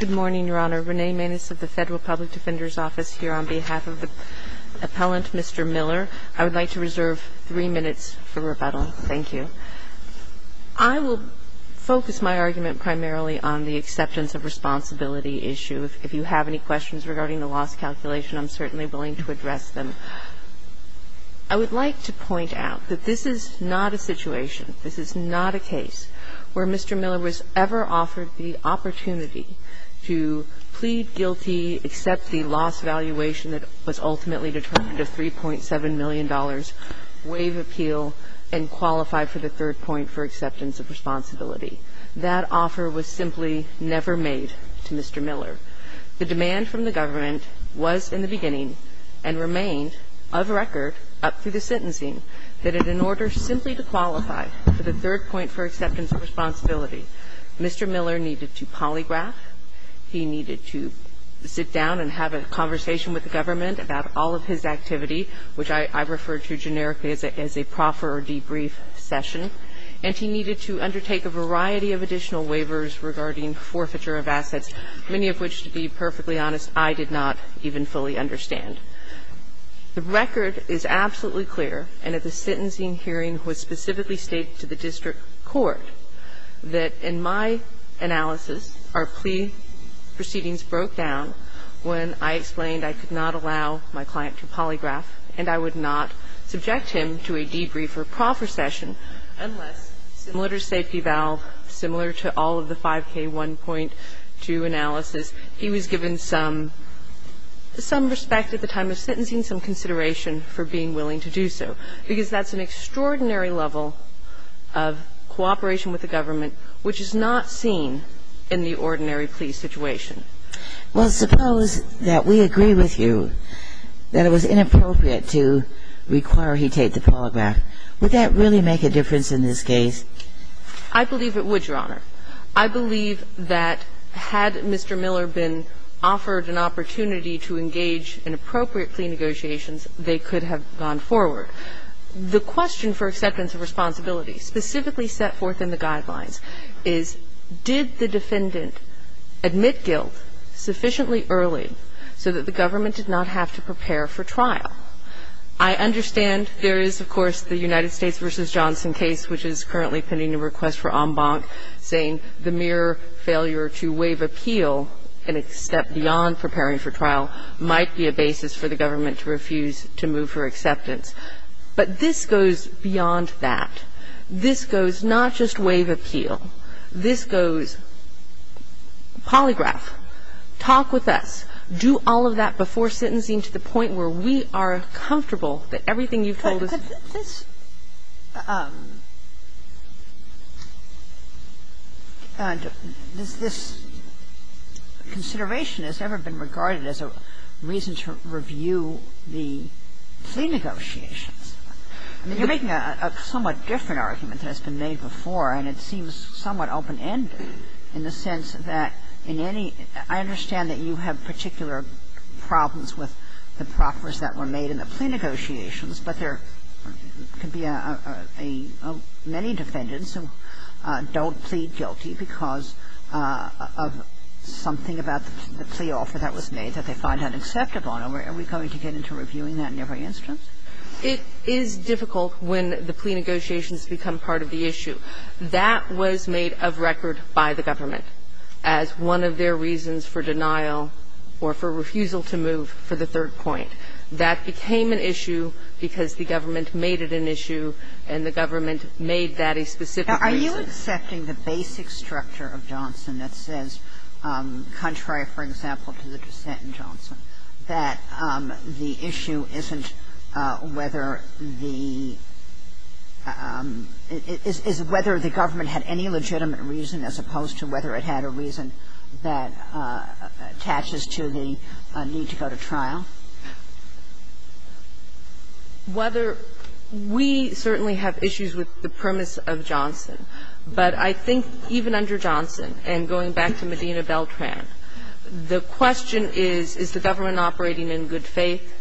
Good morning, Your Honor. Renee Maness of the Federal Public Defender's Office here on behalf of the appellant, Mr. Miller. I would like to reserve three minutes for rebuttal. Thank you. I will focus my argument primarily on the acceptance of responsibility issue. If you have any questions regarding the loss calculation, I'm certainly willing to address them. I would like to point out that this is not a situation, this is not a case, where Mr. Miller was ever offered the opportunity to plead guilty, accept the loss valuation that was ultimately determined of $3.7 million, waive appeal, and qualify for the third point for acceptance of responsibility. That offer was simply never made to Mr. Miller. The demand from the government was in the beginning and remained of record up through the sentencing that in order simply to qualify for the third point for acceptance of responsibility, Mr. Miller needed to polygraph, he needed to sit down and have a conversation with the government about all of his activity, which I refer to generically as a proffer or debrief session, and he needed to undertake a variety of additional waivers regarding forfeiture of assets, many of which, to be perfectly honest, I did not even fully understand. The record is absolutely clear, and at the sentencing hearing was specifically stated to the district court that in my analysis, our plea proceedings broke down when I explained I could not allow my client to polygraph and I would not subject him to a debrief or proffer session unless, similar to safety valve, similar to all of the 5K1.2 analysis, he was given some respect at the time of sentencing, some consideration for being willing to do so, because that's an extraordinary level of cooperation with the government which is not seen in the ordinary plea situation. Well, suppose that we agree with you that it was inappropriate to require he take the polygraph. Would that really make a difference in this case? I believe it would, Your Honor. I believe that had Mr. Miller been offered an opportunity to engage in appropriate plea negotiations, they could have gone forward. The question for acceptance of responsibility specifically set forth in the Guidelines is, did the defendant admit guilt sufficiently early so that the government did not have to prepare for trial? I understand there is, of course, the United States v. Johnson case which is currently pending a request for en banc, saying the mere failure to waive appeal and step beyond preparing for trial might be a basis for the government to refuse to move for acceptance. But this goes beyond that. This goes not just waive appeal. This goes polygraph. Talk with us. Do all of that before sentencing to the point where we are comfortable that everything you've told us to do. And this consideration has never been regarded as a reason to review the plea negotiations. I mean, you're making a somewhat different argument than has been made before, and it seems somewhat open-ended in the sense that in any – I understand that you have particular problems with the proffers that were made in the plea negotiations, but there could be a – many defendants who don't plead guilty because of something about the plea offer that was made that they find unacceptable. Are we going to get into reviewing that in every instance? It is difficult when the plea negotiations become part of the issue. That was made of record by the government as one of their reasons for denial or for refusal to move for the third point. That became an issue because the government made it an issue and the government made that a specific reason. Are you accepting the basic structure of Johnson that says, contrary, for example, to the dissent in Johnson, that the issue isn't whether the – is whether the government had any legitimate reason as opposed to whether it had a reason that attaches to the need to go to trial? Whether – we certainly have issues with the premise of Johnson, but I think even under Johnson, and going back to Medina Beltran, the question is, is the government operating in good faith?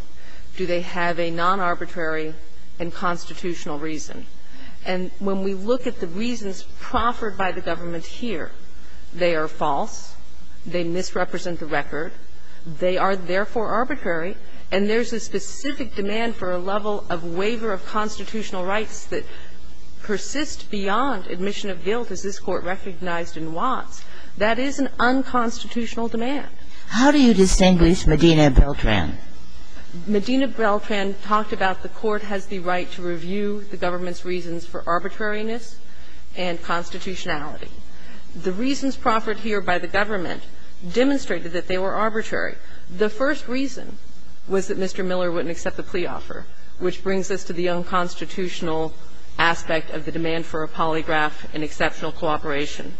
Do they have a non-arbitrary and constitutional reason? And when we look at the reasons proffered by the government here, they are false, they misrepresent the record, they are therefore arbitrary, and there's a specific demand for a level of waiver of constitutional rights that persist beyond admission of guilt as this Court recognized in Watts. That is an unconstitutional demand. How do you distinguish Medina Beltran? Medina Beltran talked about the Court has the right to review the government's reasons for arbitrariness and constitutionality. The reasons proffered here by the government demonstrated that they were arbitrary. The first reason was that Mr. Miller wouldn't accept the plea offer, which brings us to the unconstitutional aspect of the demand for a polygraph and exceptional cooperation.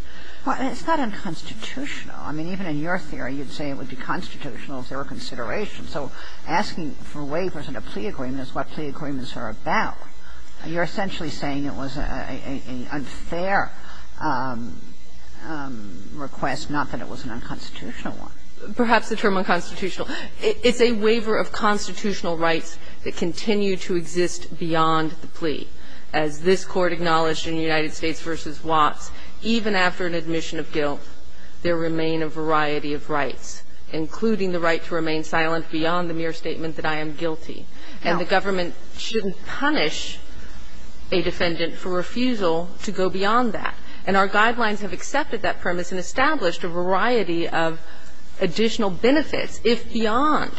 Well, it's not unconstitutional. I mean, even in your theory, you'd say it would be constitutional if there were consideration. So asking for waivers in a plea agreement is what plea agreements are about. You're essentially saying it was an unfair request, not that it was an unconstitutional one. Perhaps the term unconstitutional. It's a waiver of constitutional rights that continue to exist beyond the plea. As this Court acknowledged in United States v. Watts, even after an admission of guilt, there remain a variety of rights, including the right to remain silent beyond the mere statement that I am guilty. And the government shouldn't punish a defendant for refusal to go beyond that. And our guidelines have accepted that premise and established a variety of additional benefits if beyond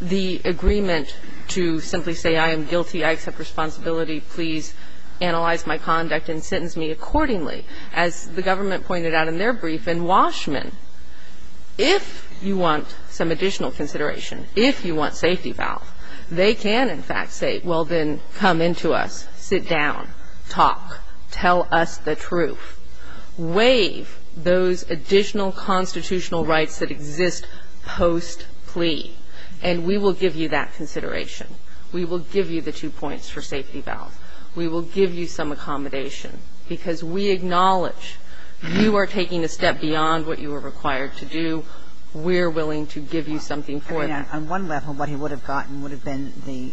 the agreement to simply say I am guilty, I accept responsibility, please analyze my conduct and sentence me accordingly. As the government pointed out in their brief in Washman, if you want some additional consideration, if you want safety valve, they can, in fact, say, well, then come into us, sit down, talk, tell us the truth, waive those additional constitutional rights that exist post-plea, and we will give you that consideration. We will give you the two points for safety valve. We will give you some accommodation because we acknowledge you are taking a step beyond what you are required to do. We're willing to give you something for it. Kagan. On one level, what he would have gotten would have been the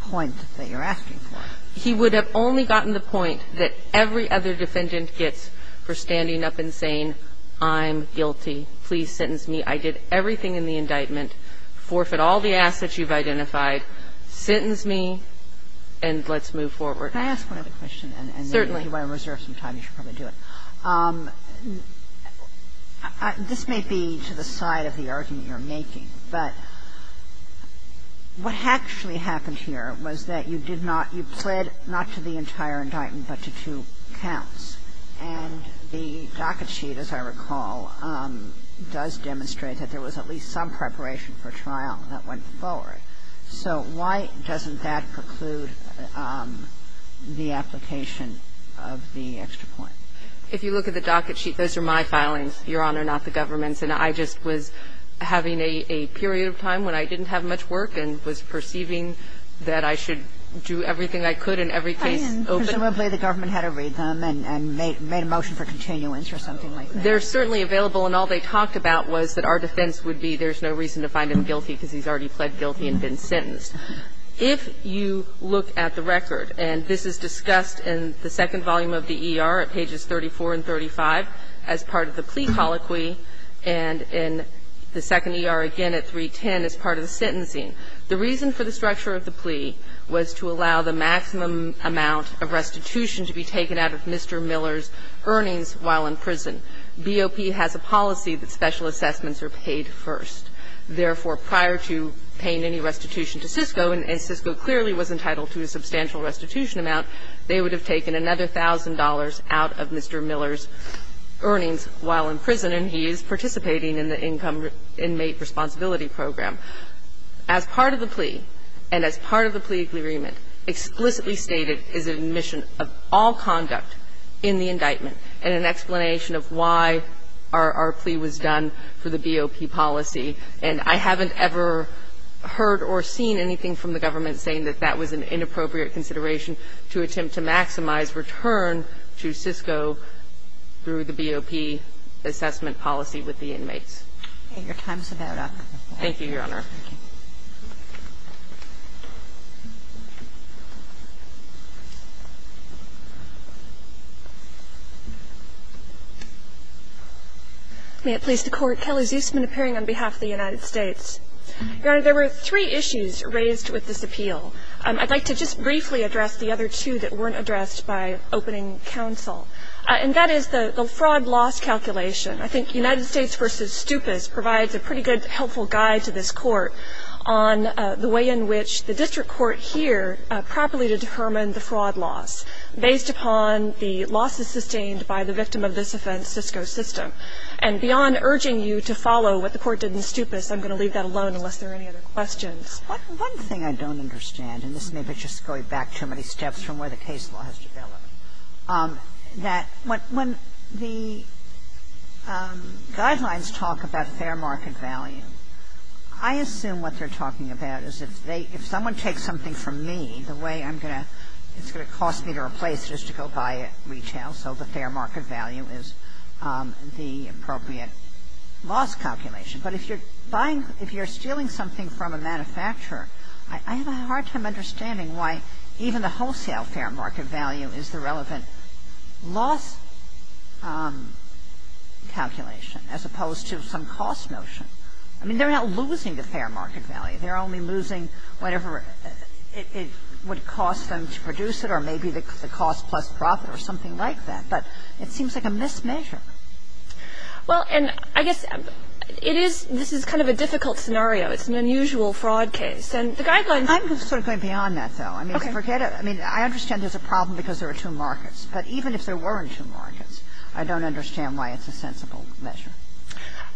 point that you're asking for. He would have only gotten the point that every other defendant gets for standing up and saying I'm guilty, please sentence me, I did everything in the indictment, forfeit all the assets you've identified, sentence me, and let's move forward. Can I ask one other question? Certainly. And if you want to reserve some time, you should probably do it. This may be to the side of the argument you're making, but what actually happened here was that you did not, you pled not to the entire indictment, but to two counts. And the docket sheet, as I recall, does demonstrate that there was at least some preparation for trial that went forward. So why doesn't that preclude the application of the extra point? If you look at the docket sheet, those are my filings, Your Honor, not the government's. And I just was having a period of time when I didn't have much work and was perceiving that I should do everything I could in every case open. Presumably the government had to read them and made a motion for continuance or something like that. They're certainly available. And all they talked about was that our defense would be there's no reason to find him guilty because he's already pled guilty and been sentenced. If you look at the record, and this is discussed in the second volume of the E.R. at pages 34 and 35 as part of the plea colloquy, and in the second E.R. again at 310 as part of the sentencing, the reason for the structure of the plea was to allow the maximum amount of restitution to be taken out of Mr. Miller's earnings while in prison. BOP has a policy that special assessments are paid first. Therefore, prior to paying any restitution to CISCO, and CISCO clearly was entitled to a substantial restitution amount, they would have taken another $1,000 out of Mr. Miller's earnings while in prison, and he is participating in the Income Inmate Responsibility Program. As part of the plea, and as part of the plea agreement, explicitly stated is admission of all conduct in the indictment and an explanation of why our plea was done for the inmate, and I haven't ever heard or seen anything from the government saying that that was an inappropriate consideration to attempt to maximize return to CISCO through the BOP assessment policy with the inmates. Your time is about up. Thank you, Your Honor. May it please the Court. Kelly Zusman appearing on behalf of the United States. Your Honor, there were three issues raised with this appeal. I'd like to just briefly address the other two that weren't addressed by opening counsel, and that is the fraud loss calculation. I think United States v. Stupas provides a pretty good, helpful guide to this Court on the way in which the district court here properly determined the fraud loss based upon the losses sustained by the victim of this offense, CISCO system. And beyond urging you to follow what the Court did in Stupas, I'm going to leave that alone unless there are any other questions. One thing I don't understand, and this may be just going back too many steps from where the case law has developed, that when the guidelines talk about fair market value, I assume what they're talking about is if someone takes something from me, the way it's going to cost me to replace it is to go buy it retail, so the fair market value is the appropriate loss calculation. But if you're buying, if you're stealing something from a manufacturer, I have a hard time understanding why even the wholesale fair market value is the relevant loss calculation as opposed to some cost notion. I mean, they're not losing the fair market value. They're only losing whatever it would cost them to produce it or maybe the cost plus profit or something like that. But it seems like a mismeasure. Well, and I guess it is, this is kind of a difficult scenario. It's an unusual fraud case. And the guidelines. I'm sort of going beyond that, though. Okay. I mean, forget it. I mean, I understand there's a problem because there are two markets. But even if there weren't two markets, I don't understand why it's a sensible measure.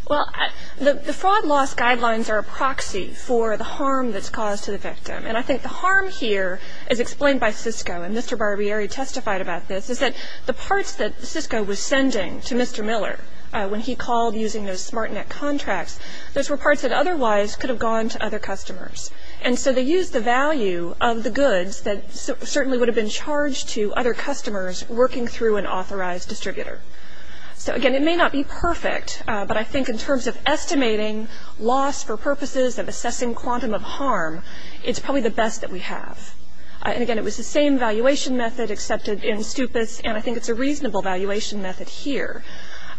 Well, the fraud loss guidelines are a proxy for the harm that's caused to the victim. And I think the harm here is explained by Cisco. And Mr. Barbieri testified about this, is that the parts that Cisco was sending to Mr. Miller when he called using those smart net contracts, those were parts that otherwise could have gone to other customers. And so they used the value of the goods that certainly would have been charged to other customers working through an authorized distributor. So, again, it may not be perfect. But I think in terms of estimating loss for purposes of assessing quantum of harm, it's probably the best that we have. And, again, it was the same valuation method accepted in Stupas. And I think it's a reasonable valuation method here.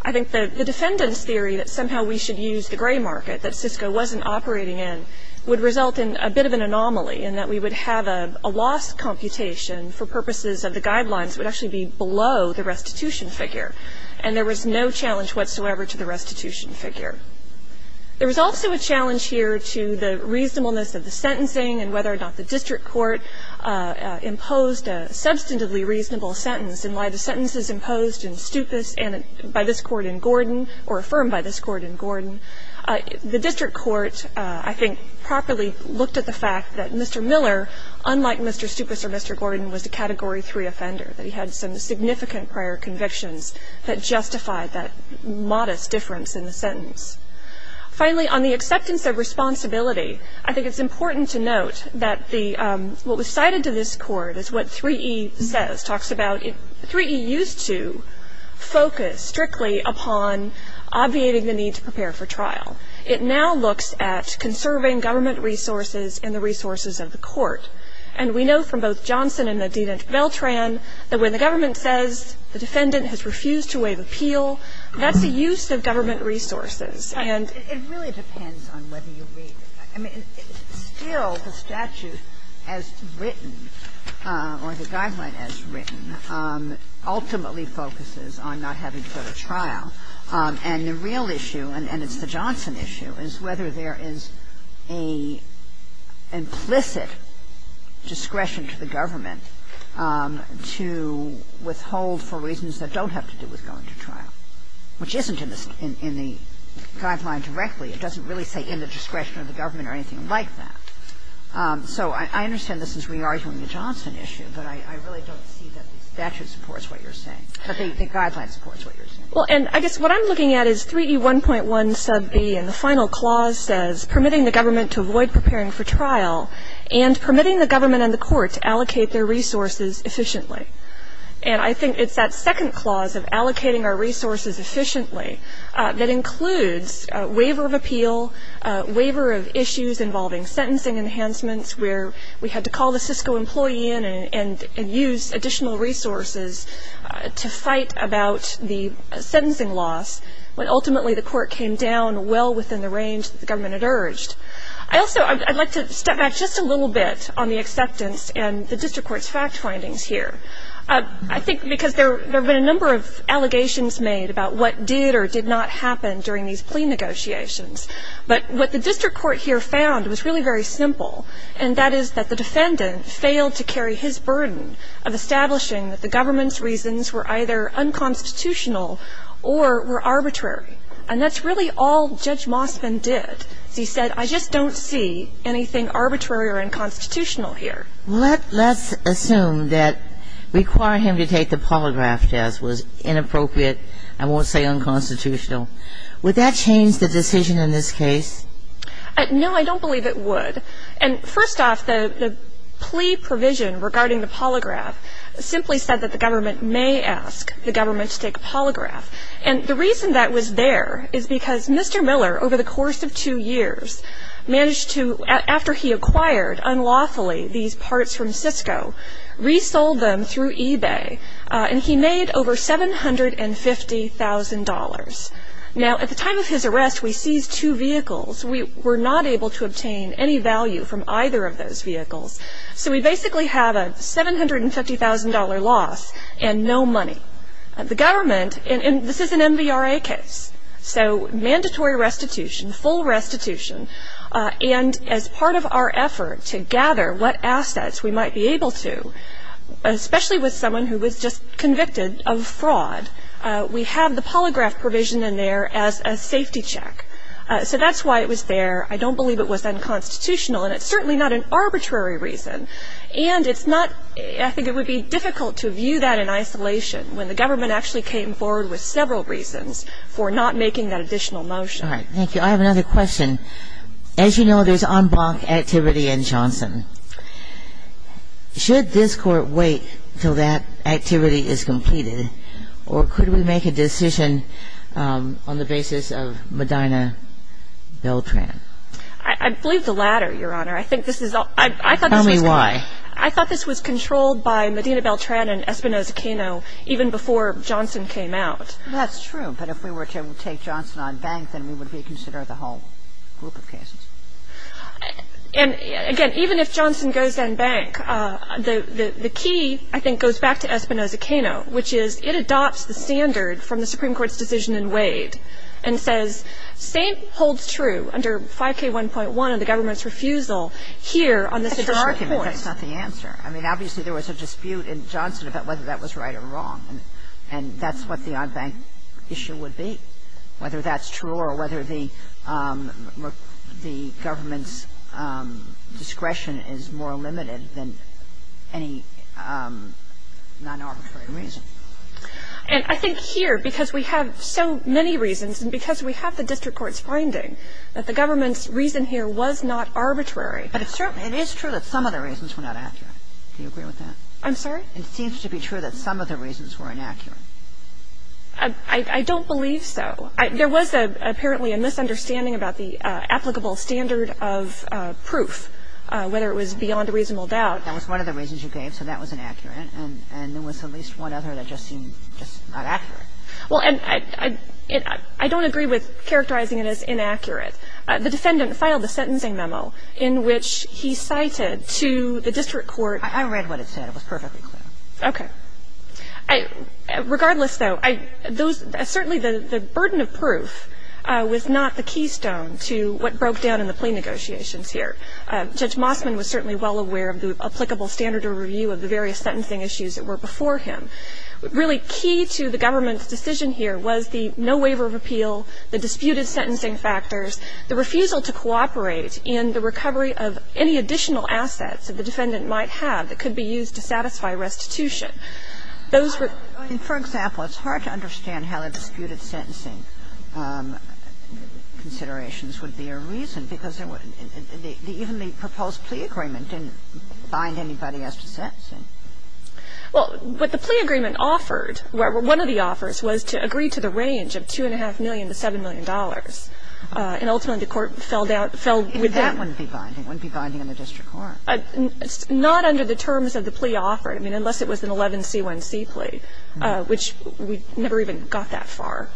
I think the defendant's theory that somehow we should use the gray market that Cisco wasn't operating in would result in a bit of an anomaly in that we would have a loss computation for the restitution figure. And there was no challenge whatsoever to the restitution figure. There was also a challenge here to the reasonableness of the sentencing and whether or not the district court imposed a substantively reasonable sentence and why the sentences imposed in Stupas and by this court in Gordon or affirmed by this court in Gordon, the district court, I think, properly looked at the fact that Mr. Miller, unlike Mr. Stupas or Mr. Gordon, was a Category 3 offender, that he had some significant prior convictions that justified that modest difference in the sentence. Finally, on the acceptance of responsibility, I think it's important to note that what was cited to this court is what 3E says, talks about 3E used to focus strictly upon obviating the need to prepare for trial. It now looks at conserving government resources and the resources of the court. And we know from both Johnson and Nadina Veltran that when the government says the defendant has refused to waive appeal, that's a use of government resources. And ---- Kagan. It really depends on whether you read it. I mean, still the statute as written or the guideline as written ultimately focuses on not having to go to trial. And the real issue, and it's the Johnson issue, is whether there is an implicit discretion to the government to withhold for reasons that don't have to do with going to trial, which isn't in the guideline directly. It doesn't really say in the discretion of the government or anything like that. So I understand this is re-arguing the Johnson issue, but I really don't see that the statute supports what you're saying, that the guideline supports what you're saying. Well, and I guess what I'm looking at is 3E1.1 sub B and the final clause says permitting the government to avoid preparing for trial and permitting the government and the court to allocate their resources efficiently. And I think it's that second clause of allocating our resources efficiently that includes waiver of appeal, waiver of issues involving sentencing enhancements where we had to call the Cisco employee in and use additional resources to fight about the sentencing loss when ultimately the court came down well within the range that the government had urged. I'd like to step back just a little bit on the acceptance and the district court's fact findings here. I think because there have been a number of allegations made about what did or did not happen during these plea negotiations. But what the district court here found was really very simple, and that is that the defendant failed to carry his burden of establishing that the government's reasons were either unconstitutional or were arbitrary. And that's really all Judge Mosman did. He said, I just don't see anything arbitrary or unconstitutional here. Let's assume that requiring him to take the polygraph test was inappropriate, I won't say unconstitutional. Would that change the decision in this case? No, I don't believe it would. And first off, the plea provision regarding the polygraph simply said that the government may ask the government to take a polygraph. And the reason that was there is because Mr. Miller, over the course of two years, managed to, after he acquired unlawfully these parts from Cisco, resold them through eBay, and he made over $750,000. Now, at the time of his arrest, we seized two vehicles. We were not able to obtain any value from either of those vehicles. So we basically have a $750,000 loss and no money. The government, and this is an MVRA case, so mandatory restitution, full restitution, and as part of our effort to gather what assets we might be able to, especially with someone who was just convicted of fraud, we have the polygraph provision in there as a safety check. So that's why it was there. I don't believe it was unconstitutional, and it's certainly not an arbitrary reason. And it's not – I think it would be difficult to view that in isolation when the government actually came forward with several reasons for not making that additional motion. All right, thank you. I have another question. As you know, there's en banc activity in Johnson. Should this Court wait until that activity is completed, or could we make a decision on the basis of Medina-Beltran? I believe the latter, Your Honor. I think this is – Tell me why. I thought this was controlled by Medina-Beltran and Espinoza-Quino even before Johnson came out. That's true, but if we were to take Johnson en banc, then we would reconsider the whole group of cases. And, again, even if Johnson goes en banc, the key, I think, goes back to Espinoza-Quino, which is it adopts the standard from the Supreme Court's decision in Wade and says St. holds true under 5K1.1 on the government's refusal here on the Supreme Court. That's your argument. That's not the answer. I mean, obviously there was a dispute in Johnson about whether that was right or wrong, and that's what the en banc issue would be, whether that's true or whether the government's discretion is more limited than any non-arbitrary reason. And I think here, because we have so many reasons and because we have the district court's finding that the government's reason here was not arbitrary. But it's true that some of the reasons were not accurate. Do you agree with that? I'm sorry? It seems to be true that some of the reasons were inaccurate. I don't believe so. There was apparently a misunderstanding about the applicable standard of proof, whether it was beyond a reasonable doubt. That was one of the reasons you gave, so that was inaccurate. And there was at least one other that just seemed just not accurate. Well, and I don't agree with characterizing it as inaccurate. The defendant filed a sentencing memo in which he cited to the district court. I read what it said. It was perfectly clear. Okay. Regardless, though, those – certainly the burden of proof was not the keystone to what broke down in the plea negotiations here. Judge Mossman was certainly well aware of the applicable standard of review of the various sentencing issues that were before him. Really key to the government's decision here was the no waiver of appeal, the disputed sentencing factors, the refusal to cooperate in the recovery of any additional assets that the defendant might have that could be used to satisfy restitution. Those were – For example, it's hard to understand how the disputed sentencing considerations would be a reason, because even the proposed plea agreement didn't bind anybody as to sentencing. Well, what the plea agreement offered, one of the offers, was to agree to the range of $2.5 million to $7 million. And ultimately the court fell within – If that wouldn't be binding, it wouldn't be binding on the district court. Not under the terms of the plea offer, I mean, unless it was an 11C1C plea, which we never even got that far.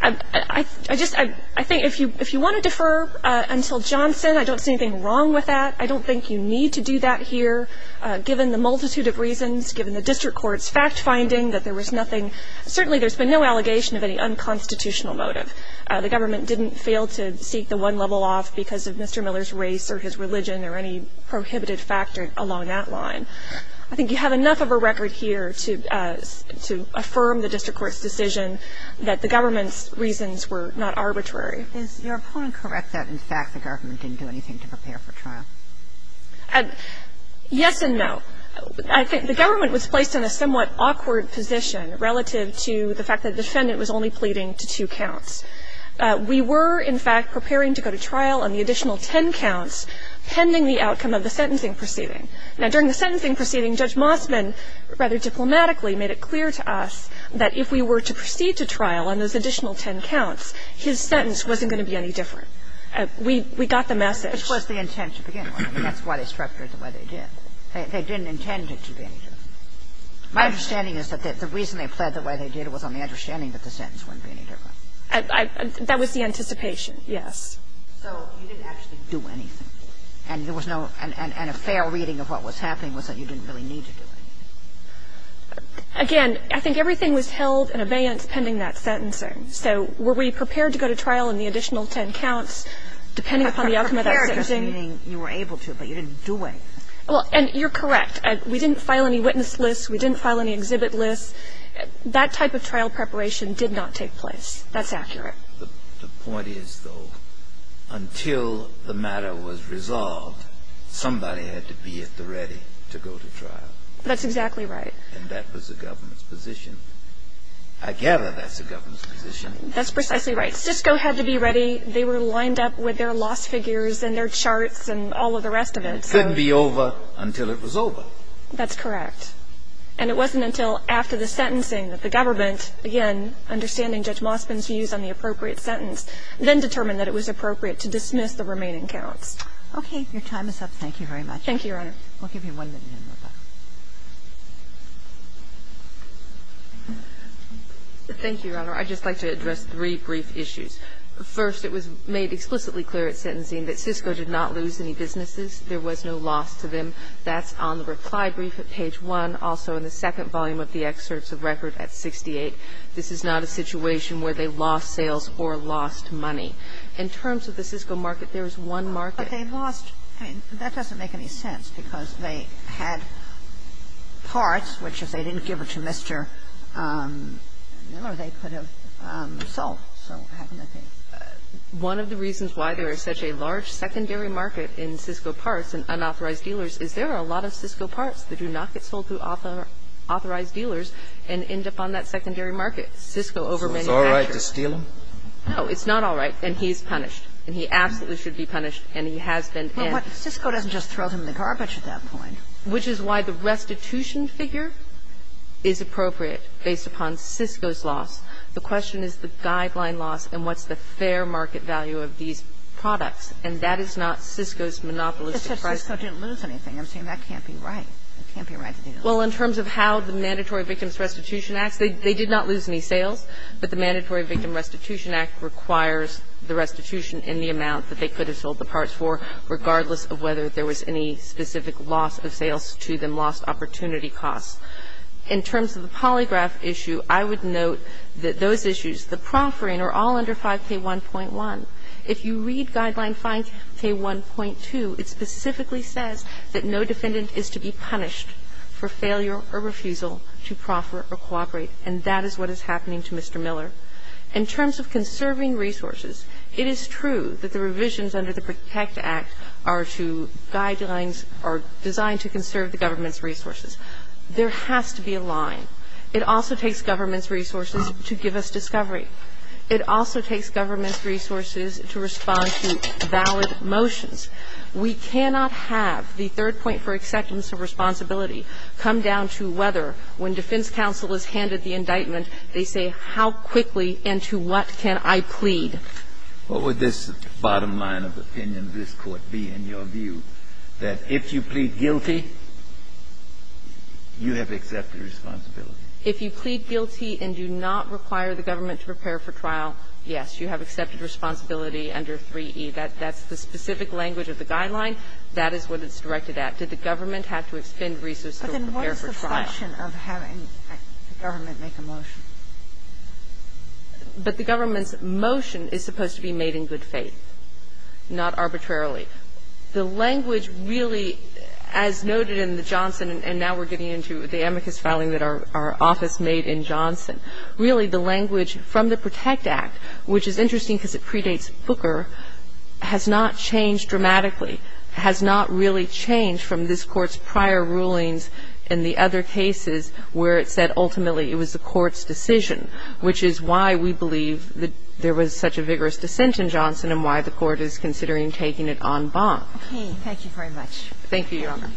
I just – I think if you want to defer until Johnson, I don't see anything wrong with that. I don't think you need to do that here, given the multitude of reasons, given the district court's fact-finding that there was nothing – certainly there's been no allegation of any unconstitutional motive. The government didn't fail to seek the one level off because of Mr. Miller's race or his religion or any prohibited factor along that line. I think you have enough of a record here to affirm the district court's decision that the government's reasons were not arbitrary. Is your opponent correct that in fact the government didn't do anything to prepare for trial? Yes and no. I think the government was placed in a somewhat awkward position relative to the fact that the defendant was only pleading to two counts. We were, in fact, preparing to go to trial on the additional ten counts pending the outcome of the sentencing proceeding. Now, during the sentencing proceeding, Judge Mossman rather diplomatically made it clear to us that if we were to proceed to trial on those additional ten counts, his sentence wasn't going to be any different. We got the message. It was the intent to begin with. I mean, that's why they structured it the way they did. They didn't intend it to be any different. My understanding is that the reason they pled the way they did was on the understanding that the sentence wouldn't be any different. That was the anticipation, yes. So you didn't actually do anything. And there was no – and a fair reading of what was happening was that you didn't really need to do anything. Again, I think everything was held in abeyance pending that sentencing. So were we prepared to go to trial on the additional ten counts, depending upon the outcome of that sentencing? You were able to, but you didn't do anything. Well, and you're correct. We didn't file any witness lists. We didn't file any exhibit lists. That type of trial preparation did not take place. That's accurate. The point is, though, until the matter was resolved, somebody had to be at the ready to go to trial. That's exactly right. And that was the government's position. I gather that's the government's position. That's precisely right. Cisco had to be ready. They were lined up with their loss figures and their charts and all of the rest of it. And it couldn't be over until it was over. That's correct. And it wasn't until after the sentencing that the government, again, understanding Judge Mossman's views on the appropriate sentence, then determined that it was appropriate to dismiss the remaining counts. Okay. Your time is up. Thank you very much. Thank you, Your Honor. We'll give you one minute in the back. Thank you, Your Honor. I'd just like to address three brief issues. First, it was made explicitly clear at sentencing that Cisco did not lose any businesses. There was no loss to them. There was no loss to the Cisco market. There was no loss to the Cisco market. And that's on the reply brief at page 1, also in the second volume of the excerpts of record at 68. This is not a situation where they lost sales or lost money. In terms of the Cisco market, there is one market they lost. That doesn't make any sense because they had parts, which if they didn't give it to Mr. Miller, they could have sold. So how can that be? One of the reasons why there is such a large secondary market in Cisco parts and unauthorized dealers is there are a lot of Cisco parts that do not get sold to authorized dealers and end up on that secondary market. Cisco over many factors. So it's all right to steal them? No, it's not all right, and he's punished. And he absolutely should be punished, and he has been. But Cisco doesn't just throw them in the garbage at that point. Which is why the restitution figure is appropriate based upon Cisco's loss. The question is the guideline loss and what's the fair market value of these products. And that is not Cisco's monopolistic pricing. It's just Cisco didn't lose anything. I'm saying that can't be right. It can't be right to do that. Well, in terms of how the Mandatory Victims Restitution Act, they did not lose any sales, but the Mandatory Victim Restitution Act requires the restitution in the amount that they could have sold the parts for, regardless of whether there was any specific loss of sales to them, lost opportunity costs. In terms of the polygraph issue, I would note that those issues, the proffering, are all under 5K1.1. If you read Guideline 5K1.2, it specifically says that no defendant is to be punished for failure or refusal to proffer or cooperate, and that is what is happening to Mr. Miller. In terms of conserving resources, it is true that the revisions under the Protect Victims Restitution Act are to guidelines, are designed to conserve the government's resources. There has to be a line. It also takes government's resources to give us discovery. It also takes government's resources to respond to valid motions. We cannot have the third point for acceptance of responsibility come down to whether when defense counsel is handed the indictment, they say how quickly and to what can I plead. What would this bottom line of opinion of this Court be, in your view, that if you plead guilty, you have accepted responsibility? If you plead guilty and do not require the government to prepare for trial, yes, you have accepted responsibility under 3E. That's the specific language of the guideline. That is what it's directed at. Did the government have to expend resources to prepare for trial? But then what is the function of having the government make a motion? But the government's motion is supposed to be made in good faith, not arbitrarily. The language really, as noted in the Johnson, and now we're getting into the amicus filing that our office made in Johnson, really the language from the Protect Act, which is interesting because it predates Booker, has not changed dramatically, has not really changed from this Court's prior rulings in the other cases where it said ultimately it was the Court's decision, which is why we believe that there was such a vigorous dissent in Johnson and why the Court is considering taking it en banc. Thank you very much. Thank you, Your Honor.